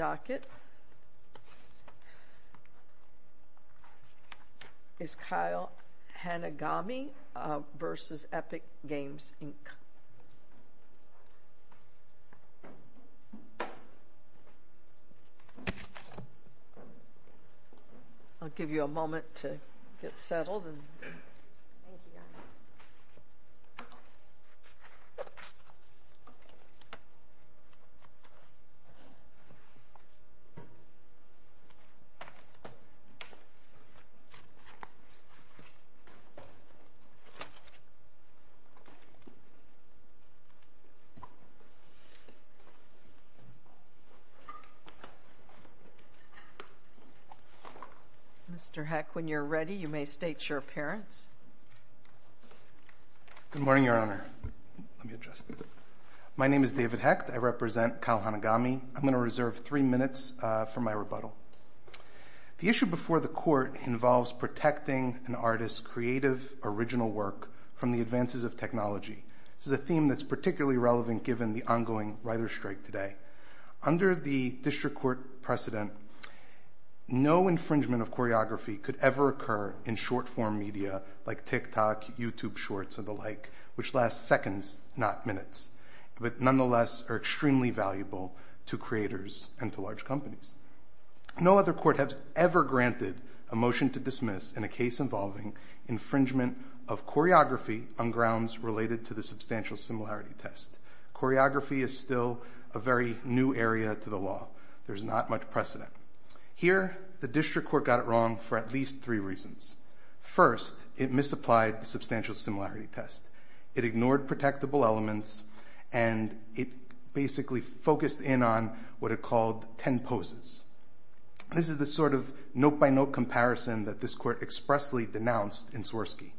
I'll give you a moment to get settled. Mr. Heck, when you're ready, you may state your appearance. Good morning, Your Honor. Let me adjust this. My name is David Heck. I represent Kyle Hanagami. I'm going to reserve three minutes for my rebuttal. The issue before the court involves protecting an artist's creative, original work from the advances of technology. This is a theme that's particularly relevant given the ongoing writer's strike today. Under the district court precedent, no infringement of choreography could ever occur in short-form media like TikTok, YouTube shorts, and the like, which last seconds, not minutes, but nonetheless are extremely valuable to creators and to large companies. No other court has ever granted a motion to dismiss in a case involving infringement of choreography on grounds related to the substantial similarity test. Choreography is still a very new area to the law. There's not much precedent. Here, the district court got it wrong for at least three reasons. First, it misapplied the substantial similarity test. It ignored protectable elements, and it basically focused in on what it called ten poses. This is the sort of note-by-note comparison that this court expressly denounced in Swirsky.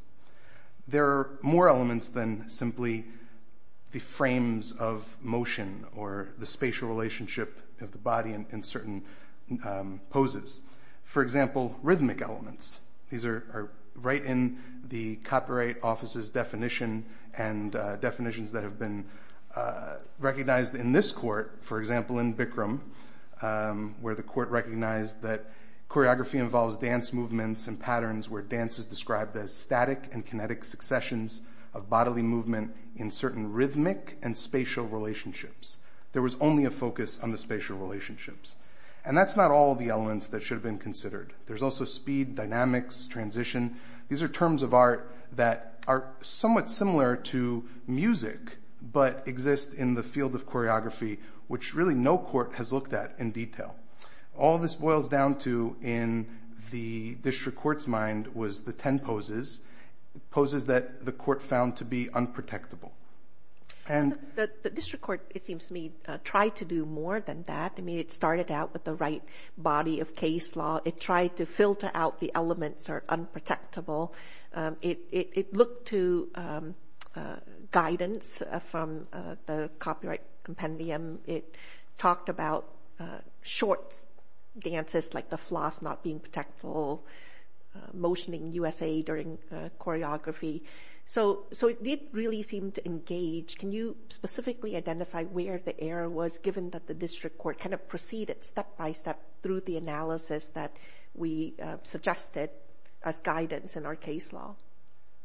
There are more elements than simply the frames of motion or the spatial relationship of the body in certain poses. For example, rhythmic elements. These are right in the copyright office's definition and definitions that have been recognized in this court, for example, in Bikram, where the court recognized that choreography involves dance movements and patterns where dance is described as static and kinetic successions of bodily movement in certain rhythmic and spatial relationships. There was only a focus on the spatial relationships. And that's not all the elements that should have been considered. There's also speed, dynamics, transition. These are terms of art that are somewhat similar to music but exist in the field of choreography, which really no court has looked at in detail. All this boils down to in the district court's mind was the ten poses, poses that the court found to be unprotectable. The district court, it seems to me, tried to do more than that. I mean, it started out with the right body of case law. It tried to filter out the elements that are unprotectable. It looked to guidance from the copyright compendium. It talked about short dances like the floss not being protectable, motioning USA during choreography. So it did really seem to engage. Can you specifically identify where the error was given that the district court kind of proceeded step by step through the analysis that we suggested as guidance in our case law?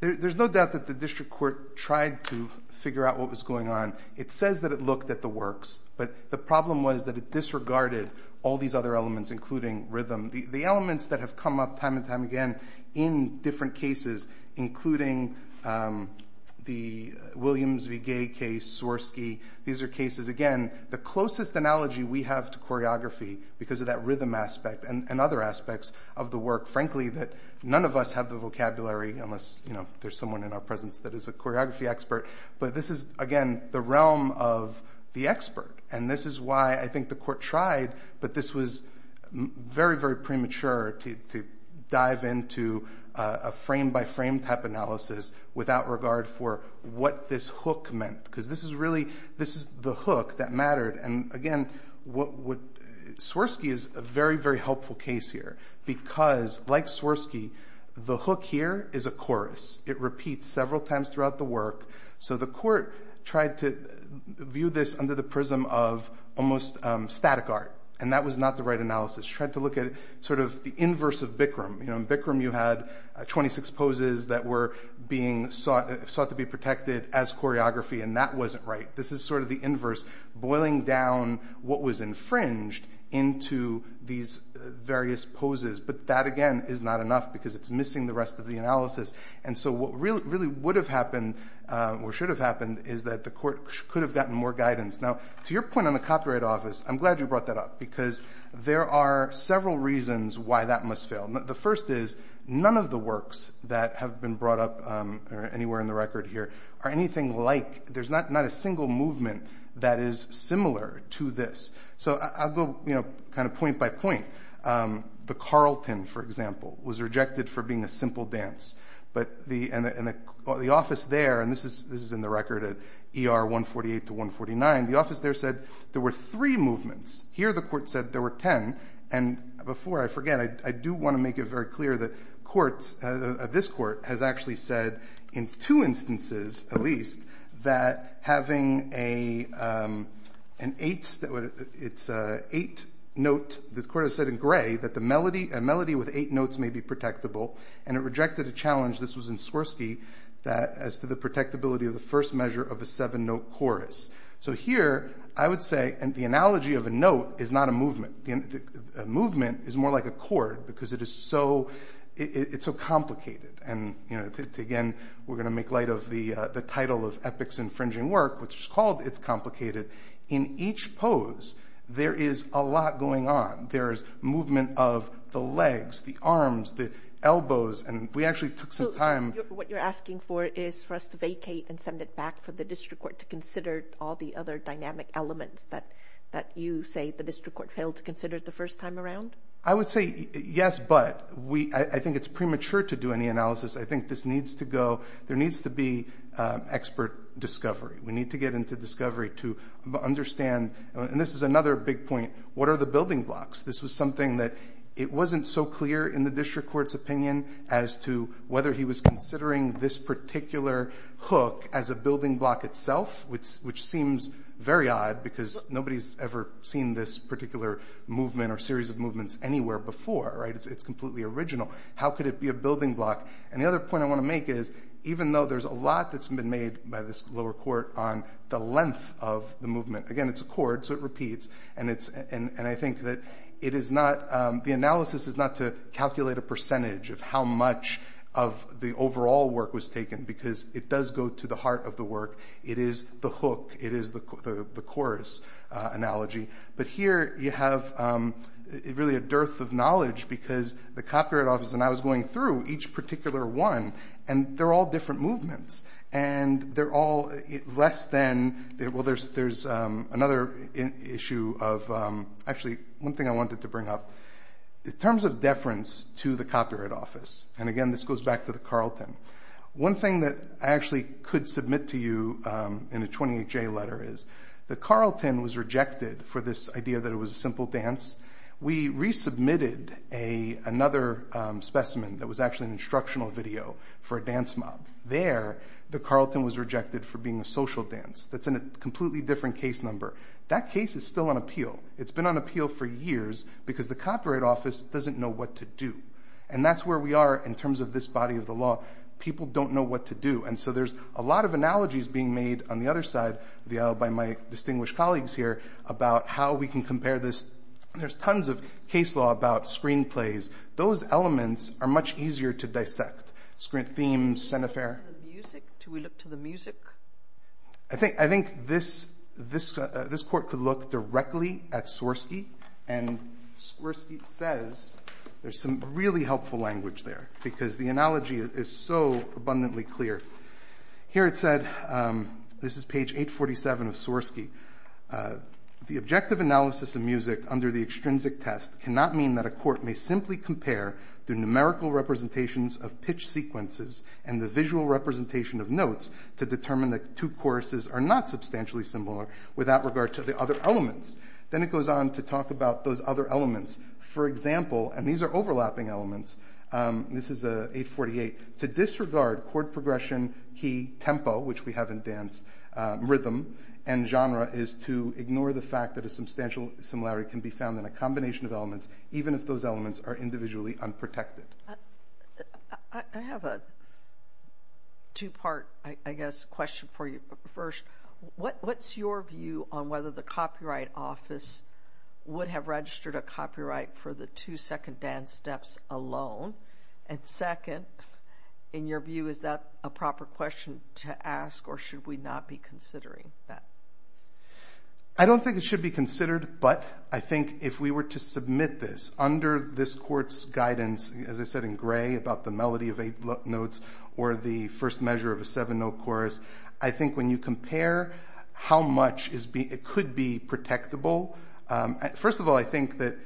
There's no doubt that the district court tried to figure out what was going on. It says that it looked at the works, but the problem was that it disregarded all these other elements, including rhythm. The elements that have come up time and time again in different cases, including the Williams v. Gay case, Swarsky. These are cases, again, the closest analogy we have to choreography because of that rhythm aspect and other aspects of the work. Frankly, that none of us have the vocabulary unless there's someone in our presence that is a choreography expert. But this is, again, the realm of the expert. And this is why I think the court tried, but this was very, very premature to dive into a frame-by-frame type analysis without regard for what this hook meant. Because this is really the hook that mattered. And, again, Swarsky is a very, very helpful case here because, like Swarsky, the hook here is a chorus. So the court tried to view this under the prism of almost static art, and that was not the right analysis. Tried to look at sort of the inverse of Bikram. In Bikram, you had 26 poses that were being sought to be protected as choreography, and that wasn't right. This is sort of the inverse, boiling down what was infringed into these various poses. But that, again, is not enough because it's missing the rest of the analysis. And so what really would have happened or should have happened is that the court could have gotten more guidance. Now, to your point on the copyright office, I'm glad you brought that up because there are several reasons why that must fail. The first is none of the works that have been brought up anywhere in the record here are anything like – there's not a single movement that is similar to this. So I'll go kind of point by point. The Carlton, for example, was rejected for being a simple dance. But the office there – and this is in the record at ER 148 to 149 – the office there said there were three movements. Here, the court said there were ten. And before I forget, I do want to make it very clear that courts – this court has actually said in two instances, at least, that having an eighth note – the court has said in gray that a melody with eight notes may be protectable. And it rejected a challenge – this was in Swirsky – as to the protectability of the first measure of a seven-note chorus. So here, I would say – and the analogy of a note is not a movement. A movement is more like a chord because it is so – it's so complicated. And, again, we're going to make light of the title of Epic's infringing work, which is called It's Complicated. In each pose, there is a lot going on. There is movement of the legs, the arms, the elbows. And we actually took some time – So what you're asking for is for us to vacate and send it back for the district court to consider all the other dynamic elements that you say the district court failed to consider the first time around? I would say yes, but I think it's premature to do any analysis. I think this needs to go – there needs to be expert discovery. We need to get into discovery to understand – and this is another big point – what are the building blocks? This was something that it wasn't so clear in the district court's opinion as to whether he was considering this particular hook as a building block itself, which seems very odd because nobody's ever seen this particular movement or series of movements anywhere before, right? It's completely original. How could it be a building block? And the other point I want to make is even though there's a lot that's been made by this lower court on the length of the movement – again, it's a chord, so it repeats – and I think that it is not – the analysis is not to calculate a percentage of how much of the overall work was taken because it does go to the heart of the work. It is the hook. It is the chorus analogy. But here you have really a dearth of knowledge because the Copyright Office – and I was going through each particular one, and they're all different movements, and they're all less than – well, there's another issue of – actually, one thing I wanted to bring up. In terms of deference to the Copyright Office – and again, this goes back to the Carlton – one thing that I actually could submit to you in a 28J letter is the Carlton was rejected for this idea that it was a simple dance. We resubmitted another specimen that was actually an instructional video for a dance mob. There, the Carlton was rejected for being a social dance. That's in a completely different case number. That case is still on appeal. It's been on appeal for years because the Copyright Office doesn't know what to do, and that's where we are in terms of this body of the law. People don't know what to do, and so there's a lot of analogies being made on the other side of the aisle by my distinguished colleagues here about how we can compare this. There's tons of case law about screenplays. Those elements are much easier to dissect. Screen themes, cenefer. Do we look to the music? I think this court could look directly at Swirsky, and Swirsky says there's some really helpful language there because the analogy is so abundantly clear. Here it said, this is page 847 of Swirsky, the objective analysis of music under the extrinsic test cannot mean that a court may simply compare the numerical representations of pitch sequences and the visual representation of notes to determine that two choruses are not substantially similar without regard to the other elements. Then it goes on to talk about those other elements. For example, and these are overlapping elements, this is 848, to disregard chord progression, key, tempo, which we have in dance, rhythm, and genre is to ignore the fact that a substantial similarity can be found in a combination of elements, even if those elements are individually unprotected. I have a two-part, I guess, question for you. First, what's your view on whether the Copyright Office would have registered a copyright for the two second dance steps alone? And second, in your view, is that a proper question to ask or should we not be considering that? I don't think it should be considered, but I think if we were to submit this under this court's guidance, as I said in gray about the melody of eight notes or the first measure of a seven-note chorus, I think when you compare how much it could be protectable, first of all, I think that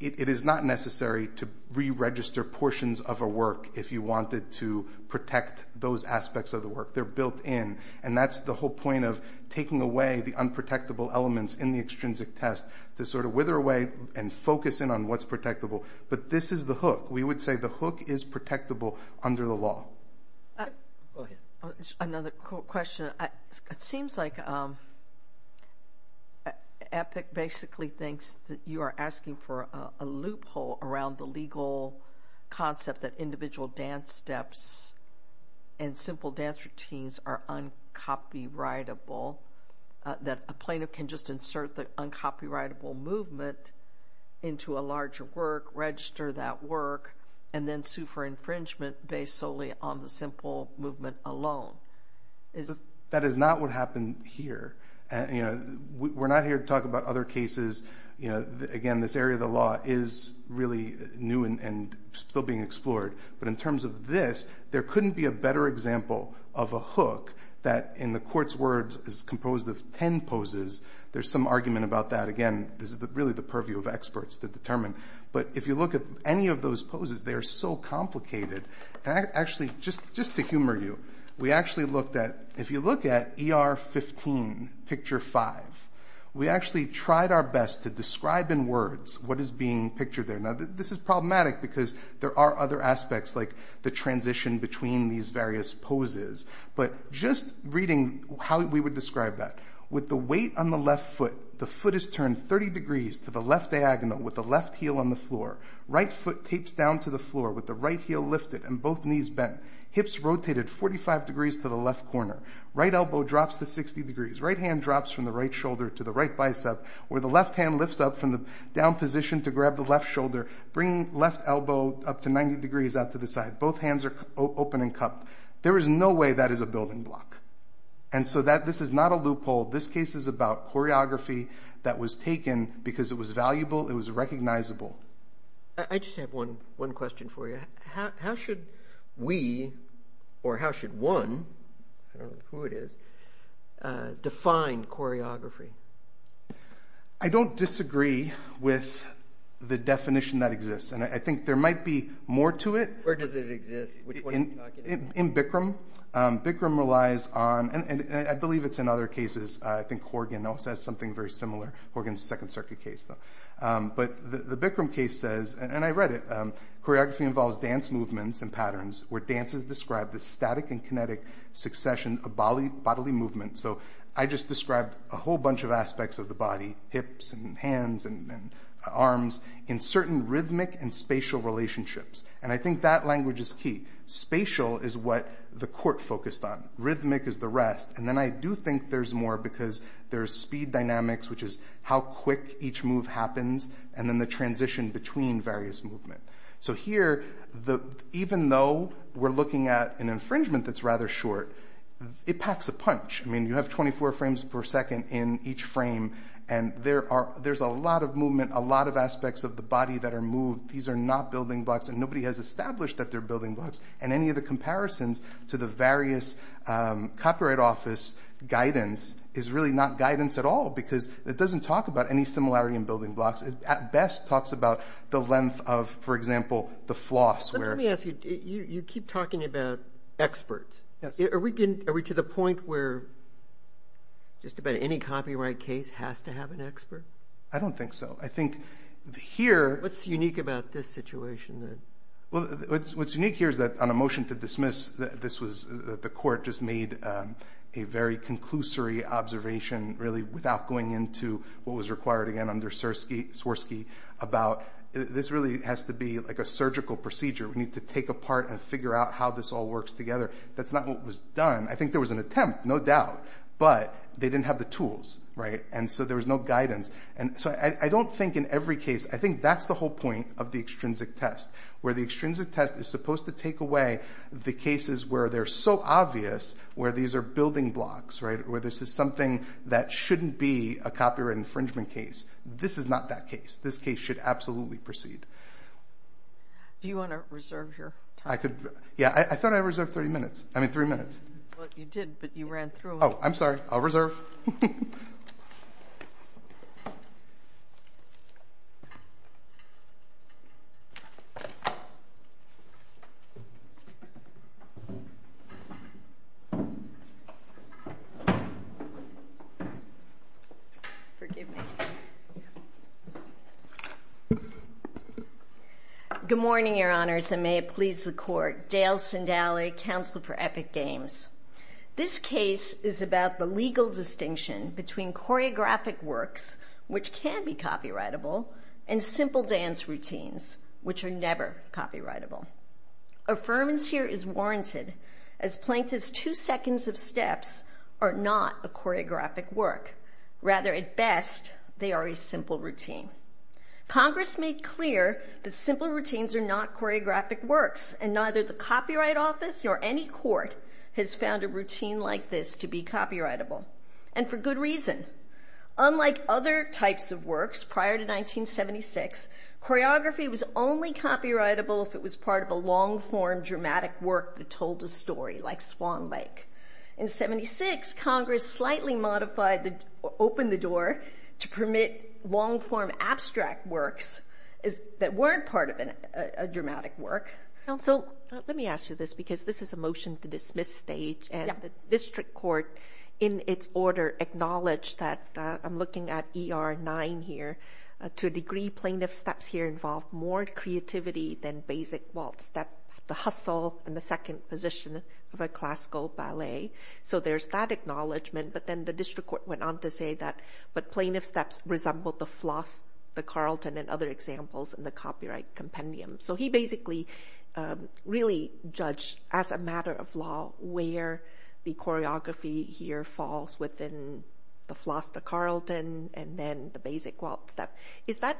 it is not necessary to re-register portions of a work if you wanted to protect those aspects of the work. They're built in, and that's the whole point of taking away the unprotectable elements in the extrinsic test to sort of wither away and focus in on what's protectable. But this is the hook. We would say the hook is protectable under the law. Go ahead. Another question. It seems like EPIC basically thinks that you are asking for a loophole around the legal concept that individual dance steps and simple dance routines are uncopyrightable, that a plaintiff can just insert the uncopyrightable movement into a larger work, register that work, and then sue for infringement based solely on the simple movement alone. That is not what happened here. We're not here to talk about other cases. Again, this area of the law is really new and still being explored. But in terms of this, there couldn't be a better example of a hook that, in the court's words, is composed of ten poses. There's some argument about that. Again, this is really the purview of experts to determine. But if you look at any of those poses, they are so complicated. Actually, just to humor you, if you look at ER 15, picture five, we actually tried our best to describe in words what is being pictured there. Now, this is problematic because there are other aspects like the transition between these various poses. But just reading how we would describe that. With the weight on the left foot, the foot is turned 30 degrees to the left diagonal with the left heel on the floor. Right foot tapes down to the floor with the right heel lifted and both knees bent. Hips rotated 45 degrees to the left corner. Right elbow drops to 60 degrees. Right hand drops from the right shoulder to the right bicep, where the left hand lifts up from the down position to grab the left shoulder, bringing left elbow up to 90 degrees out to the side. Both hands are open and cupped. There is no way that is a building block. This is not a loophole. This case is about choreography that was taken because it was valuable. It was recognizable. I just have one question for you. How should we, or how should one, I don't know who it is, define choreography? I don't disagree with the definition that exists. I think there might be more to it. Where does it exist? In Bikram. Bikram relies on, and I believe it's in other cases. I think Horgan also has something very similar. Horgan's a Second Circuit case, though. But the Bikram case says, and I read it, choreography involves dance movements and patterns where dances describe the static and kinetic succession of bodily movement. I just described a whole bunch of aspects of the body, hips and hands and arms, in certain rhythmic and spatial relationships. I think that language is key. Spatial is what the court focused on. Rhythmic is the rest. And then I do think there's more because there's speed dynamics, which is how quick each move happens, and then the transition between various movements. So here, even though we're looking at an infringement that's rather short, it packs a punch. I mean, you have 24 frames per second in each frame, and there's a lot of movement, a lot of aspects of the body that are moved. These are not building blocks, and nobody has established that they're building blocks. And any of the comparisons to the various Copyright Office guidance is really not guidance at all because it doesn't talk about any similarity in building blocks. It at best talks about the length of, for example, the floss. Let me ask you, you keep talking about experts. Are we to the point where just about any copyright case has to have an expert? I don't think so. What's unique about this situation? What's unique here is that on a motion to dismiss, the court just made a very conclusory observation, really without going into what was required again under Swirsky, about this really has to be like a surgical procedure. We need to take apart and figure out how this all works together. That's not what was done. I think there was an attempt, no doubt, but they didn't have the tools. And so there was no guidance. And so I don't think in every case, I think that's the whole point of the extrinsic test, where the extrinsic test is supposed to take away the cases where they're so obvious, where these are building blocks, right, where this is something that shouldn't be a copyright infringement case. This is not that case. This case should absolutely proceed. Do you want to reserve your time? Yeah, I thought I reserved 30 minutes. I mean, 3 minutes. Well, you did, but you ran through them. Oh, I'm sorry. I'll reserve. Okay. Forgive me. Good morning, Your Honors, and may it please the Court. Dale Sindaly, Counsel for Epic Games. This case is about the legal distinction between choreographic works, which can be copyrightable, and simple dance routines, which are never copyrightable. Affirmance here is warranted, as plaintiff's two seconds of steps are not a choreographic work. Rather, at best, they are a simple routine. Congress made clear that simple routines are not choreographic works, and neither the Copyright Office nor any court has found a routine like this to be copyrightable, and for good reason. Unlike other types of works prior to 1976, choreography was only copyrightable if it was part of a long-form dramatic work that told a story, like Swan Lake. In 76, Congress slightly modified or opened the door to permit long-form abstract works that weren't part of a dramatic work. Counsel, let me ask you this, because this is a motion to dismiss stage, and the district court, in its order, acknowledged that, I'm looking at ER 9 here, to a degree plaintiff's steps here involve more creativity than basic waltz, the hustle and the second position of a classical ballet. So there's that acknowledgement, but then the district court went on to say that the plaintiff's steps resembled the floss, the Carlton, and other examples in the copyright compendium. So he basically really judged, as a matter of law, where the choreography here falls within the floss, the Carlton, and then the basic waltz step. Is that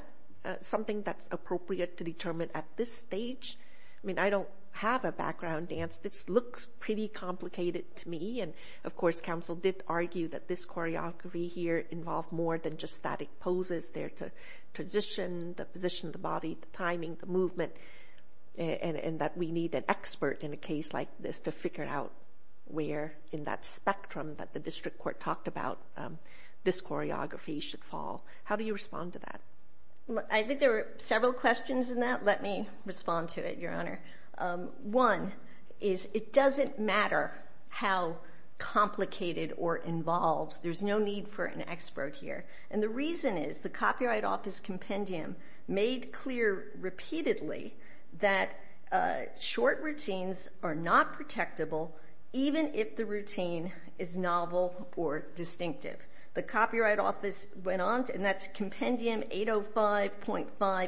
something that's appropriate to determine at this stage? I mean, I don't have a background in dance. This looks pretty complicated to me, and, of course, counsel did argue that this choreography here involved more than just static poses. There's a transition, the position of the body, the timing, the movement, and that we need an expert in a case like this to figure out where in that spectrum that the district court talked about this choreography should fall. How do you respond to that? I think there were several questions in that. Let me respond to it, Your Honor. One is it doesn't matter how complicated or involved. There's no need for an expert here. And the reason is the Copyright Office compendium made clear repeatedly that short routines are not protectable even if the routine is novel or distinctive. The Copyright Office went on, and that's compendium 805.5a.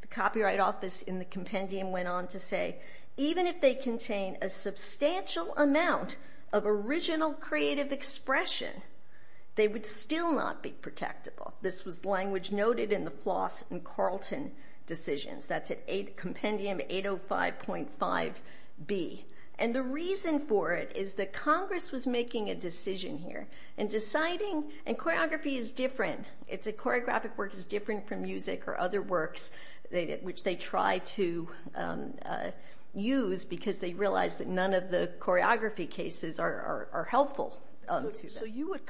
The Copyright Office in the compendium went on to say even if they contain a substantial amount of original creative expression, they would still not be protectable. This was language noted in the Floss and Carlton decisions. That's compendium 805.5b. And the reason for it is that Congress was making a decision here and choreography is different. Choreographic work is different from music or other works which they try to use because they realize that none of the choreography cases are helpful to them. So you would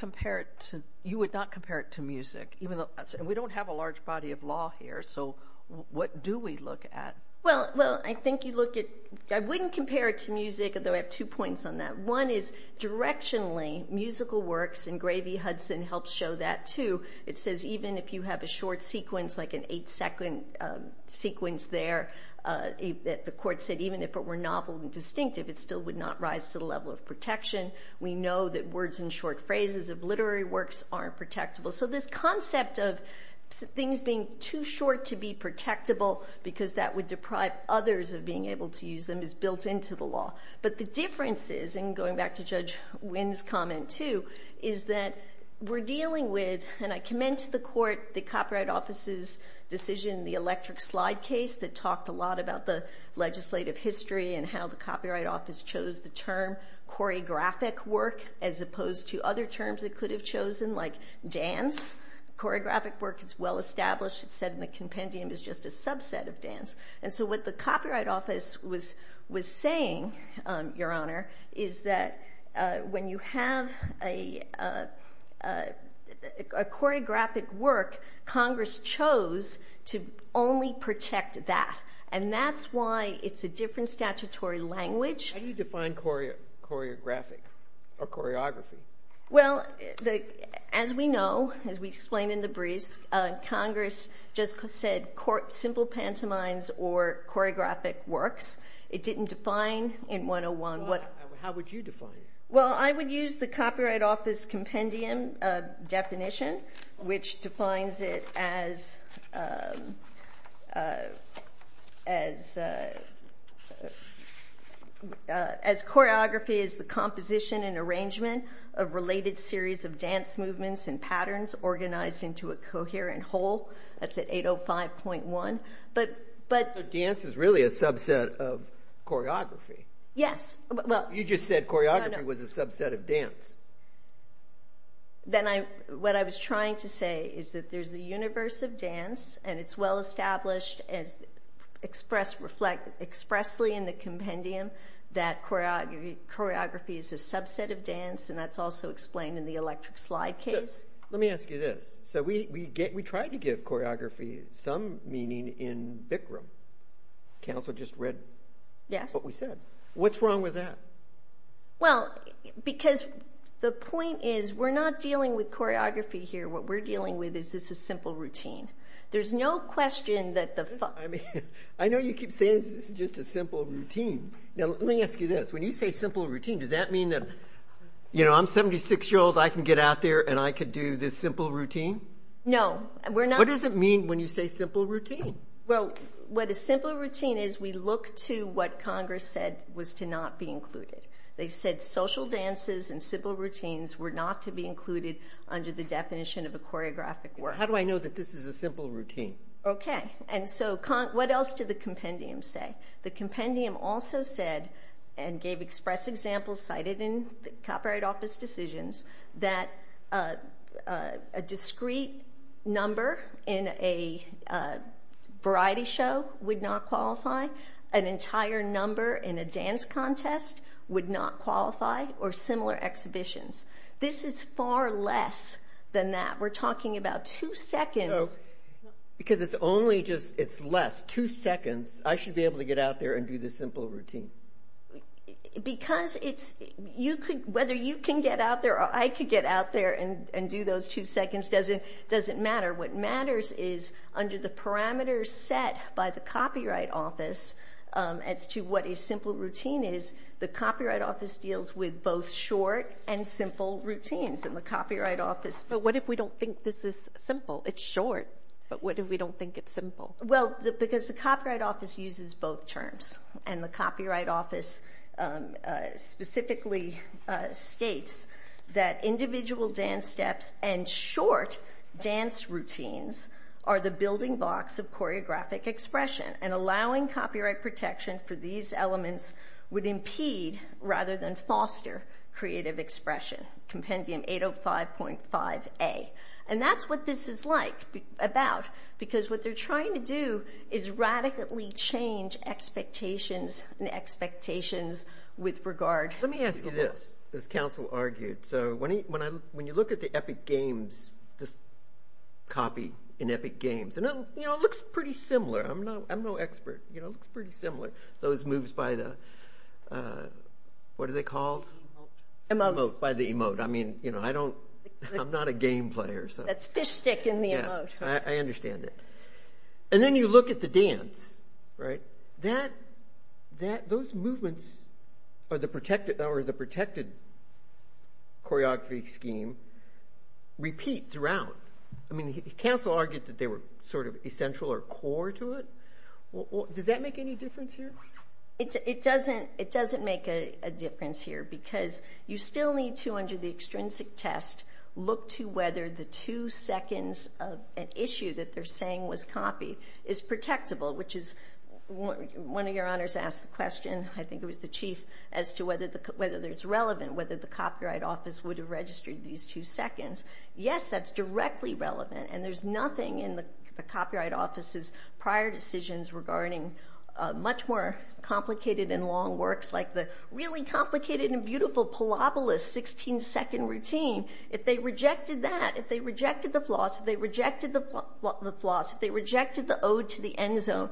not compare it to music, even though we don't have a large body of law here. So what do we look at? Well, I think you look at it. I wouldn't compare it to music, although I have two points on that. One is directionally, musical works, and Gravy Hudson helps show that too. It says even if you have a short sequence like an 8-second sequence there, the court said even if it were novel and distinctive, it still would not rise to the level of protection. We know that words and short phrases of literary works aren't protectable. So this concept of things being too short to be protectable because that would deprive others of being able to use them is built into the law. But the difference is, and going back to Judge Wynn's comment too, is that we're dealing with, and I commend to the court the Copyright Office's decision in the electric slide case that talked a lot about the legislative history and how the Copyright Office chose the term choreographic work as opposed to other terms it could have chosen like dance. Choreographic work is well established. It's said in the compendium it's just a subset of dance. So what the Copyright Office was saying, Your Honor, is that when you have a choreographic work, Congress chose to only protect that. And that's why it's a different statutory language. How do you define choreographic or choreography? Well, as we know, as we explained in the briefs, Congress just said simple pantomimes or choreographic works. It didn't define in 101 what... How would you define it? Well, I would use the Copyright Office compendium definition, which defines it as choreography is the composition and arrangement of related series of dance movements and patterns organized into a coherent whole. That's at 805.1. But dance is really a subset of choreography. You just said choreography was a subset of dance. Then what I was trying to say is that there's the universe of dance and it's well established expressly in the compendium that choreography is a subset of dance, and that's also explained in the electric slide case. Let me ask you this. So we tried to give choreography some meaning in Bikram. Counselor just read what we said. What's wrong with that? Well, because the point is we're not dealing with choreography here. What we're dealing with is this is a simple routine. There's no question that the... I mean, I know you keep saying this is just a simple routine. Now let me ask you this. When you say simple routine, does that mean that, you know, I'm a 76-year-old, I can get out there, and I could do this simple routine? No, we're not... What does it mean when you say simple routine? Well, what a simple routine is, we look to what Congress said was to not be included. They said social dances and simple routines were not to be included under the definition of a choreographic work. Well, how do I know that this is a simple routine? Okay, and so what else did the compendium say? The compendium also said and gave express examples cited in the Copyright Office decisions that a discrete number in a variety show would not qualify, an entire number in a dance contest would not qualify, or similar exhibitions. This is far less than that. We're talking about two seconds. So because it's only just it's less, two seconds, I should be able to get out there and do this simple routine? Because whether you can get out there or I could get out there and do those two seconds doesn't matter. What matters is under the parameters set by the Copyright Office as to what a simple routine is, the Copyright Office deals with both short and simple routines, and the Copyright Office... But what if we don't think this is simple? It's short, but what if we don't think it's simple? Well, because the Copyright Office uses both terms, and the Copyright Office specifically states that individual dance steps and short dance routines are the building blocks of choreographic expression, and allowing copyright protection for these elements would impede rather than foster creative expression. Compendium 805.5a. And that's what this is like, about, because what they're trying to do is radically change expectations and expectations with regard to... Let me ask you this, as counsel argued. So when you look at the Epic Games, this copy in Epic Games, and it looks pretty similar. I'm no expert. It looks pretty similar. Those moves by the... What are they called? Emote. Emote, by the emote. I mean, you know, I don't... I'm not a game player, so... That's fish stick in the emote. I understand that. And then you look at the dance, right? Those movements, or the protected choreography scheme, repeat throughout. I mean, counsel argued that they were sort of essential or core to it. Does that make any difference here? It doesn't make a difference here, because you still need to, under the extrinsic test, look to whether the two seconds of an issue that they're saying was copied is protectable, which is... One of your honors asked the question, I think it was the chief, as to whether it's relevant, whether the Copyright Office would have registered these two seconds. Yes, that's directly relevant, and there's nothing in the Copyright Office's prior decisions regarding much more complicated and long works, like the really complicated and beautiful Palabola's 16-second routine. If they rejected that, if they rejected the floss, if they rejected the floss, if they rejected the ode to the end zone,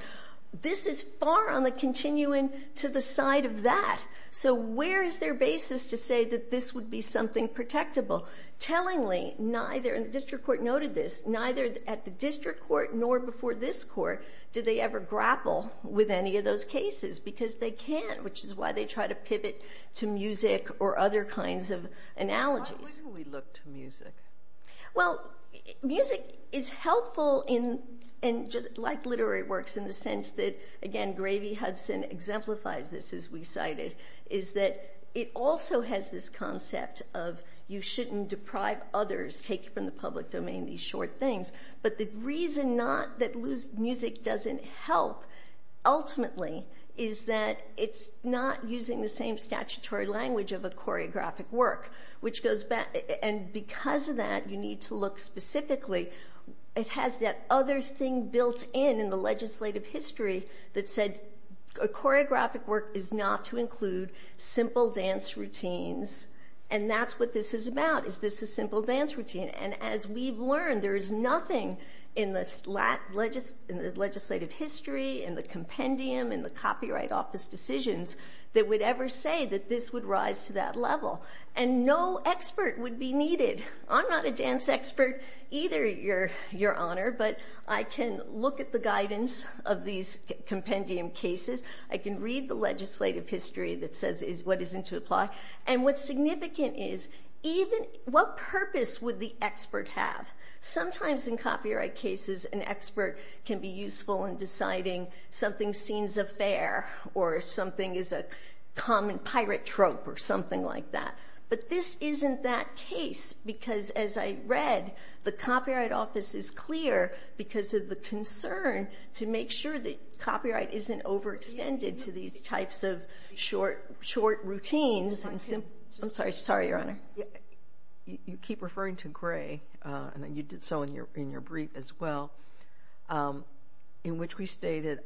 this is far on the continuum to the side of that. So where is their basis to say that this would be something protectable? Tellingly, neither... And the district court noted this. Neither at the district court nor before this court did they ever grapple with any of those cases, because they can't, which is why they try to pivot to music or other kinds of analogies. Why wouldn't we look to music? Well, music is helpful, like literary works, in the sense that, again, Gravy Hudson exemplifies this, as we cited, is that it also has this concept of you shouldn't deprive others, take from the public domain these short things. But the reason not that music doesn't help, ultimately, is that it's not using the same statutory language of a choreographic work, which goes back... And because of that, you need to look specifically. It has that other thing built in in the legislative history that said a choreographic work is not to include simple dance routines, and that's what this is about, is this a simple dance routine. And as we've learned, there is nothing in the legislative history, in the compendium, in the Copyright Office decisions that would ever say that this would rise to that level. And no expert would be needed. I'm not a dance expert either, Your Honor, but I can look at the guidance of these compendium cases. I can read the legislative history that says what is to apply. And what's significant is even what purpose would the expert have? Sometimes in copyright cases, an expert can be useful in deciding something seems affair or something is a common pirate trope or something like that. But this isn't that case because, as I read, the Copyright Office is clear because of the concern to make sure that copyright isn't overextended to these types of short routines. I'm sorry, Your Honor. You keep referring to Gray, and you did so in your brief as well, in which we stated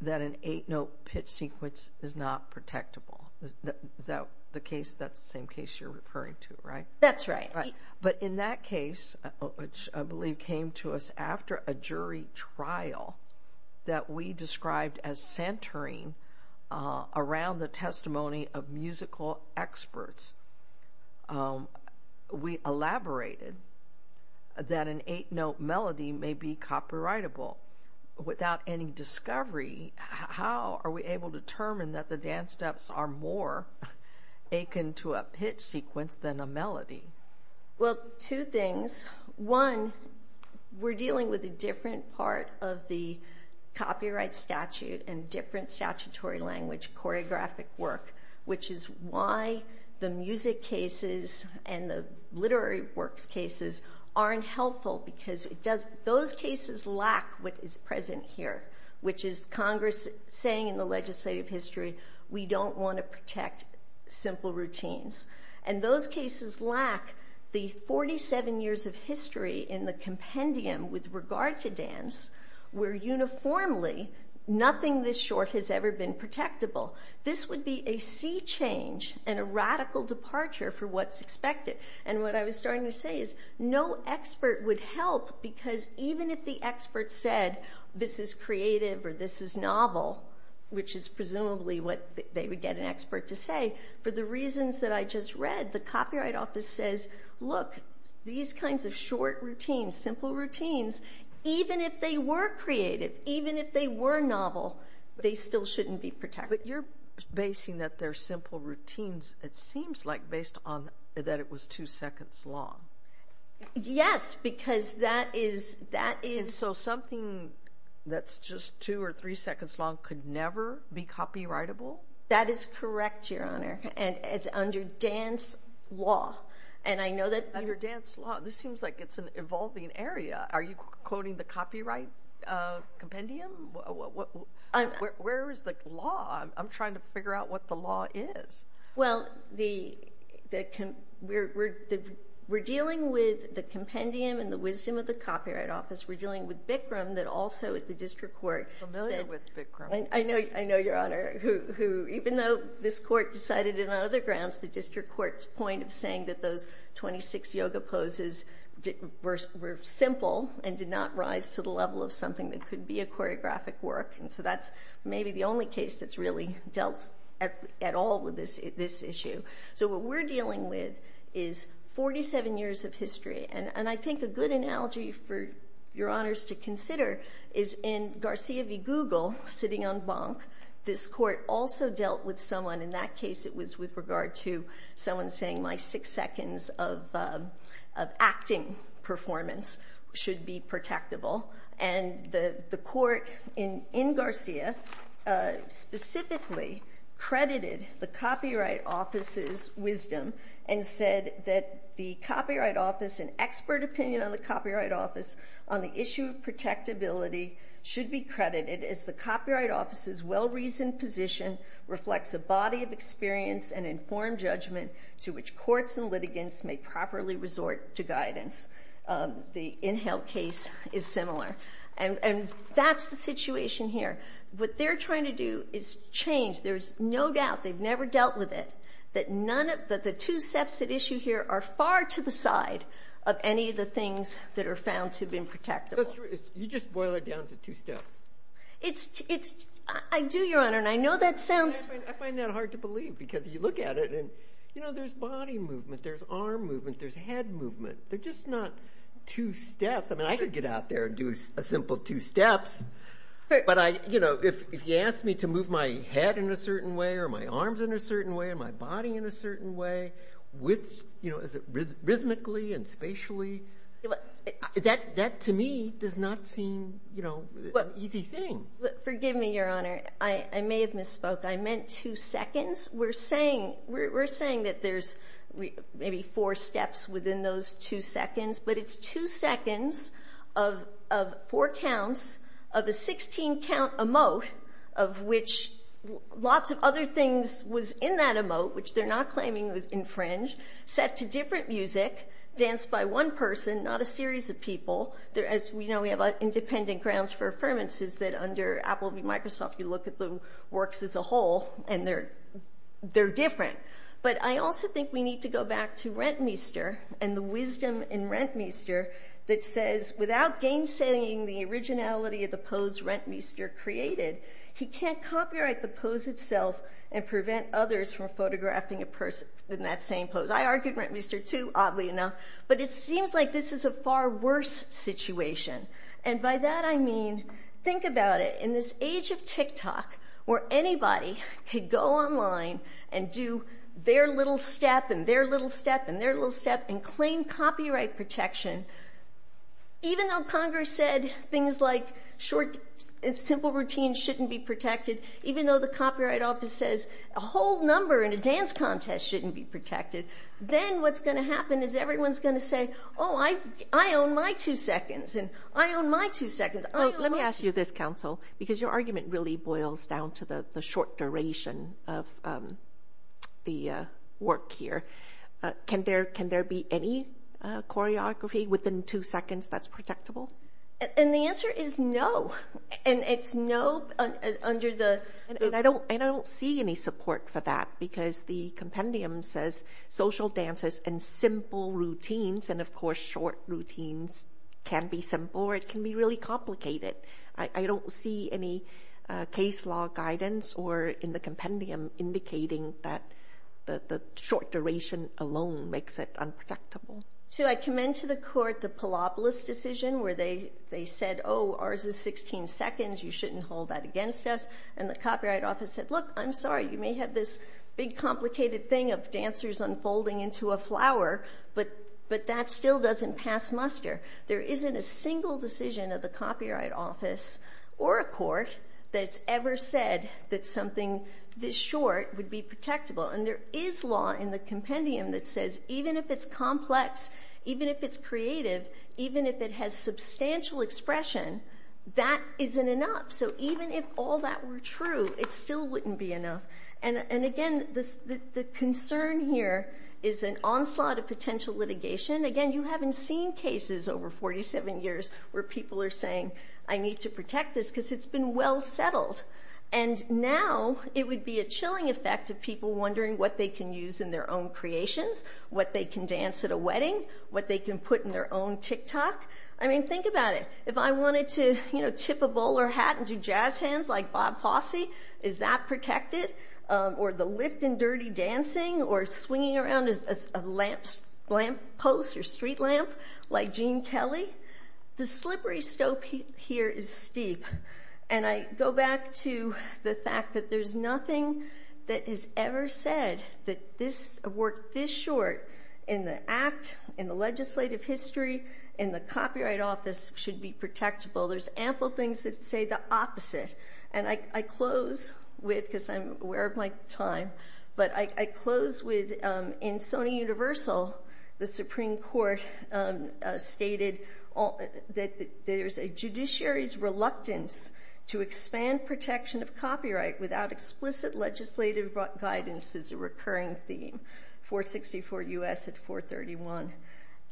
that an eight-note pitch sequence is not protectable. Is that the case? That's the same case you're referring to, right? That's right. But in that case, which I believe came to us after a jury trial that we described as centering around the testimony of musical experts we elaborated that an eight-note melody may be copyrightable. Without any discovery, how are we able to determine that the dance steps are more akin to a pitch sequence than a melody? Well, two things. One, we're dealing with a different part of the copyright statute and different statutory language choreographic work, which is why the music cases and the literary works cases aren't helpful because those cases lack what is present here, which is Congress saying in the legislative history we don't want to protect simple routines. And those cases lack the 47 years of history in the compendium with regard to dance where uniformly nothing this short has ever been protectable. This would be a sea change and a radical departure for what's expected. And what I was starting to say is no expert would help because even if the expert said this is creative or this is novel, which is presumably what they would get an expert to say, for the reasons that I just read, the Copyright Office says, look, these kinds of short routines, simple routines, even if they were creative, even if they were novel, they still shouldn't be protected. But you're basing that they're simple routines, it seems like, based on that it was two seconds long. Yes, because that is... So something that's just two or three seconds long could never be copyrightable? That is correct, Your Honor, and it's under dance law. And I know that... Under dance law... This seems like it's an evolving area. Are you quoting the copyright compendium? Where is the law? I'm trying to figure out what the law is. Well, we're dealing with the compendium and the wisdom of the Copyright Office. We're dealing with Bikram that also at the district court said... I'm familiar with Bikram. I know, Your Honor, who even though this court decided it on other grounds, the district court's point of saying that those 26 yoga poses were simple and did not rise to the level of something that could be a choreographic work. And so that's maybe the only case that's really dealt at all with this issue. So what we're dealing with is 47 years of history. And I think a good analogy for Your Honors to consider is in Garcia v. Google, sitting on Bonk, this court also dealt with someone. In that case, it was with regard to someone saying my six seconds of acting performance should be protectable. And the court in Garcia specifically credited the Copyright Office's wisdom and said that the Copyright Office and expert opinion on the Copyright Office well-reasoned position reflects a body of experience and informed judgment to which courts and litigants may properly resort to guidance. The Inhill case is similar. And that's the situation here. What they're trying to do is change. There's no doubt, they've never dealt with it, that the two steps at issue here are far to the side of any of the things that are found to have been protectable. That's true. You just boil it down to two steps. I do, Your Honor, and I know that sounds... I find that hard to believe because you look at it and, you know, there's body movement, there's arm movement, there's head movement. They're just not two steps. I mean, I could get out there and do a simple two steps. But, you know, if you ask me to move my head in a certain way or my arms in a certain way or my body in a certain way, you know, is it rhythmically and spatially? That, to me, does not seem, you know, an easy thing. Forgive me, Your Honor. I may have misspoke. I meant two seconds. We're saying that there's maybe four steps within those two seconds, but it's two seconds of four counts of a 16-count emote of which lots of other things was in that emote, which they're not claiming was infringed, set to different music, danced by one person, not a series of people. As we know, we have independent grounds for affirmances that under Apple v. Microsoft, you look at the works as a whole, and they're different. But I also think we need to go back to Rentmeester and the wisdom in Rentmeester that says, without game-setting the originality of the pose Rentmeester created, he can't copyright the pose itself and prevent others from photographing a person in that same pose. I argued Rentmeester, too, oddly enough, but it seems like this is a far worse situation, and by that I mean think about it. In this age of TikTok where anybody could go online and do their little step and their little step and their little step and claim copyright protection, even though Congress said things like short and simple routines shouldn't be protected, even though the Copyright Office says a whole number in a dance contest shouldn't be protected, then what's going to happen is everyone's going to say, oh, I own my two seconds and I own my two seconds. Let me ask you this, Counsel, because your argument really boils down to the short duration of the work here. Can there be any choreography within two seconds that's protectable? And the answer is no. And it's no under the- I don't see any support for that because the compendium says social dances and simple routines, and of course short routines can be simple or it can be really complicated. I don't see any case law guidance or in the compendium indicating that the short duration alone makes it unprotectable. So I commend to the court the Palopolis decision where they said, oh, ours is 16 seconds. You shouldn't hold that against us. And the Copyright Office said, look, I'm sorry, you may have this big complicated thing of dancers unfolding into a flower, but that still doesn't pass muster. There isn't a single decision of the Copyright Office or a court that's ever said that something this short would be protectable. And there is law in the compendium that says even if it's complex, even if it's creative, even if it has substantial expression, that isn't enough. So even if all that were true, it still wouldn't be enough. And again, the concern here is an onslaught of potential litigation. Again, you haven't seen cases over 47 years where people are saying, I need to protect this because it's been well settled. And now it would be a chilling effect of people wondering what they can use in their own creations, what they can dance at a wedding, what they can put in their own TikTok. I mean, think about it. If I wanted to, you know, tip a bowler hat and do jazz hands like Bob Fosse, is that protected? Or the lift in Dirty Dancing? Or swinging around as a lamppost or street lamp like Gene Kelly? The slippery slope here is steep. And I go back to the fact that there's nothing that is ever said that this work this short in the act, in the legislative history, in the Copyright Office, should be protectable. There's ample things that say the opposite. And I close with, because I'm aware of my time, but I close with in Sony Universal, the Supreme Court stated that there's a judiciary's reluctance to expand protection of copyright without explicit legislative guidance is a recurring theme. 464 U.S. at 431.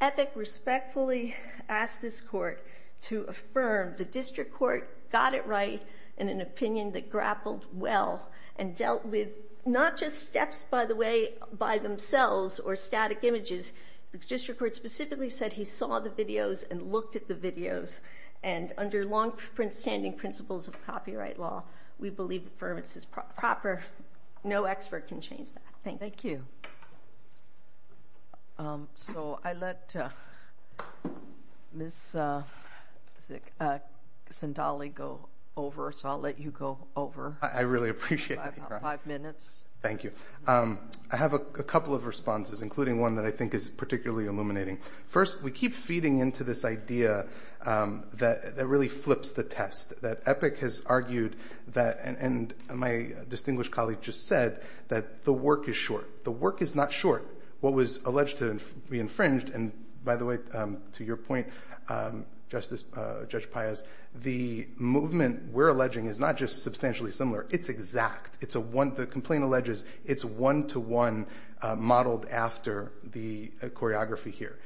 Epic respectfully asked this court to affirm. The district court got it right in an opinion that grappled well and dealt with not just steps, by the way, by themselves or static images. The district court specifically said he saw the videos and looked at the videos. And under long-standing principles of copyright law, we believe affirmance is proper. No expert can change that. Thank you. So I let Ms. Sindali go over, so I'll let you go over. I really appreciate that. Five minutes. Thank you. I have a couple of responses, including one that I think is particularly illuminating. First, we keep feeding into this idea that really flips the test, that Epic has argued that, and my distinguished colleague just said, that the work is short. The work is not short. What was alleged to be infringed, and by the way, to your point, Judge Payas, the movement we're alleging is not just substantially similar. It's exact. The complaint alleges it's one-to-one modeled after the choreography here.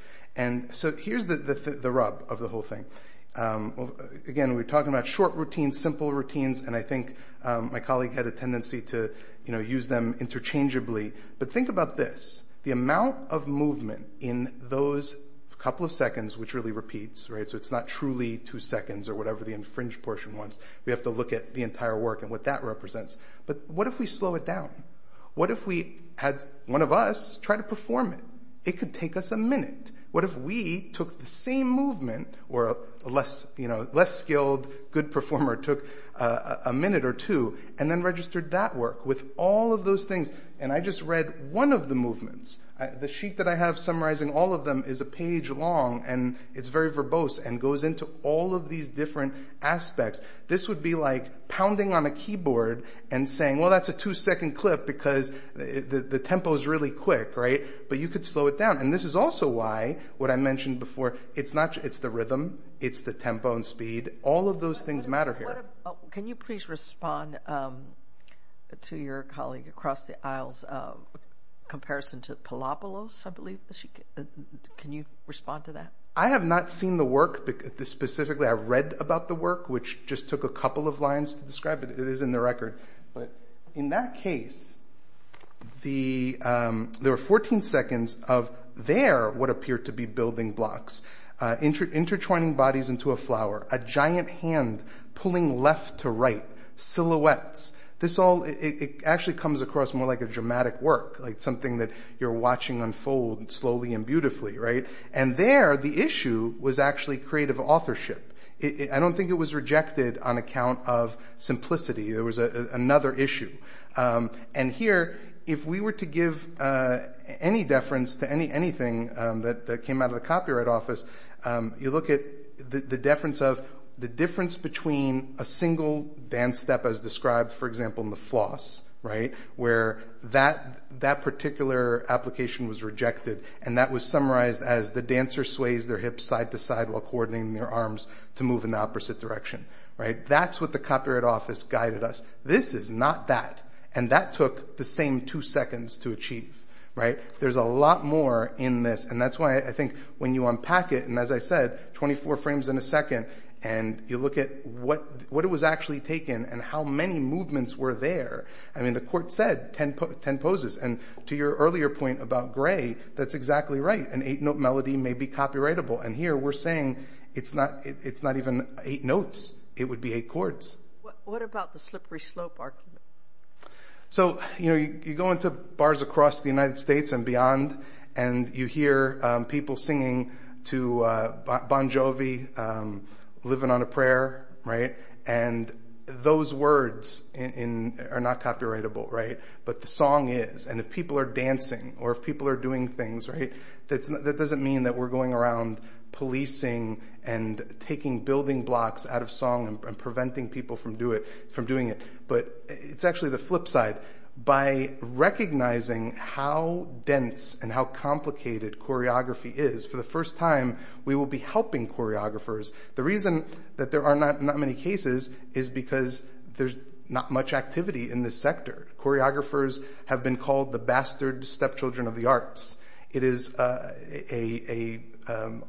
So here's the rub of the whole thing. Again, we're talking about short routines, simple routines, and I think my colleague had a tendency to use them interchangeably. But think about this. The amount of movement in those couple of seconds, which really repeats, so it's not truly two seconds or whatever the infringed portion was. We have to look at the entire work and what that represents. But what if we slow it down? What if we had one of us try to perform it? It could take us a minute. What if we took the same movement, or a less skilled good performer took a minute or two, and then registered that work with all of those things, and I just read one of the movements. The sheet that I have summarizing all of them is a page long, and it's very verbose and goes into all of these different aspects. This would be like pounding on a keyboard and saying, well, that's a two-second clip because the tempo is really quick, right? But you could slow it down. And this is also why what I mentioned before, it's the rhythm, it's the tempo and speed. All of those things matter here. Can you please respond to your colleague across the aisle's comparison to Palapalos, I believe. Can you respond to that? I have not seen the work. Specifically, I read about the work, which just took a couple of lines to describe it. It is in the record. But in that case, there were 14 seconds of there what appeared to be building blocks, intertwining bodies into a flower, a giant hand pulling left to right, silhouettes. This all actually comes across more like a dramatic work, like something that you're watching unfold slowly and beautifully, right? And there, the issue was actually creative authorship. I don't think it was rejected on account of simplicity. There was another issue. And here, if we were to give any deference to anything that came out of the Copyright Office, you look at the deference of the difference between a single dance step as described, for example, in the floss, right, where that particular application was rejected. And that was summarized as the dancer sways their hips side to side while coordinating their arms to move in the opposite direction. That's what the Copyright Office guided us. This is not that. And that took the same two seconds to achieve. There's a lot more in this. And that's why I think when you unpack it, and as I said, 24 frames in a second, and you look at what it was actually taken and how many movements were there. I mean, the court said 10 poses. And to your earlier point about gray, that's exactly right. An eight-note melody may be copyrightable. And here we're saying it's not even eight notes. It would be eight chords. What about the slippery slope argument? So, you know, you go into bars across the United States and beyond, and you hear people singing to Bon Jovi, living on a prayer, right? And those words are not copyrightable, right? But the song is. And if people are dancing or if people are doing things, right, that doesn't mean that we're going around policing and taking building blocks out of song and preventing people from doing it. But it's actually the flip side. By recognizing how dense and how complicated choreography is, for the first time, we will be helping choreographers. The reason that there are not many cases is because there's not much activity in this sector. Choreographers have been called the bastard stepchildren of the arts. It is an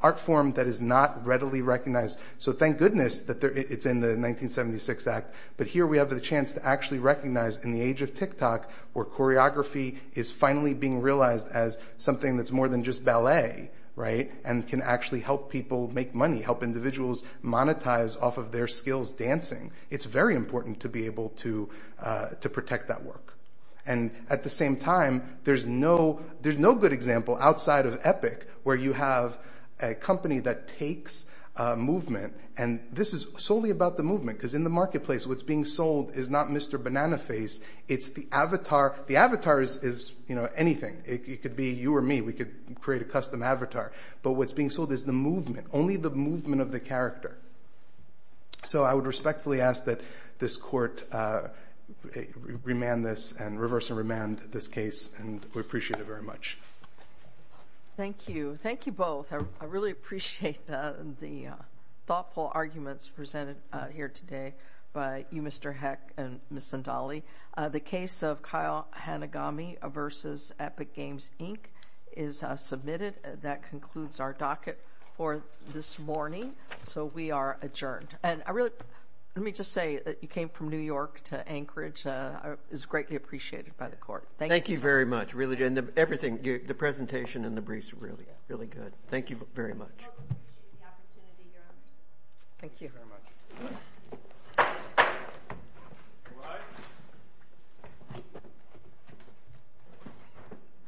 art form that is not readily recognized. So thank goodness that it's in the 1976 Act. But here we have the chance to actually recognize, in the age of TikTok, where choreography is finally being realized as something that's more than just ballet, right, and can actually help people make money, help individuals monetize off of their skills dancing. It's very important to be able to protect that work. And at the same time, there's no good example outside of Epic where you have a company that takes movement. And this is solely about the movement. Because in the marketplace, what's being sold is not Mr. Banana Face. It's the avatar. The avatar is anything. It could be you or me. We could create a custom avatar. But what's being sold is the movement, only the movement of the character. So I would respectfully ask that this court remand this and reverse remand this case. And we appreciate it very much. Thank you. Thank you both. I really appreciate the thoughtful arguments presented here today by you, Mr. Heck, and Ms. Zendali. The case of Kyle Hanagami v. Epic Games, Inc. is submitted. That concludes our docket for this morning. So we are adjourned. And let me just say that you came from New York to Anchorage. It was greatly appreciated by the court. Thank you. Thank you very much. The presentation and the briefs were really good. Thank you very much.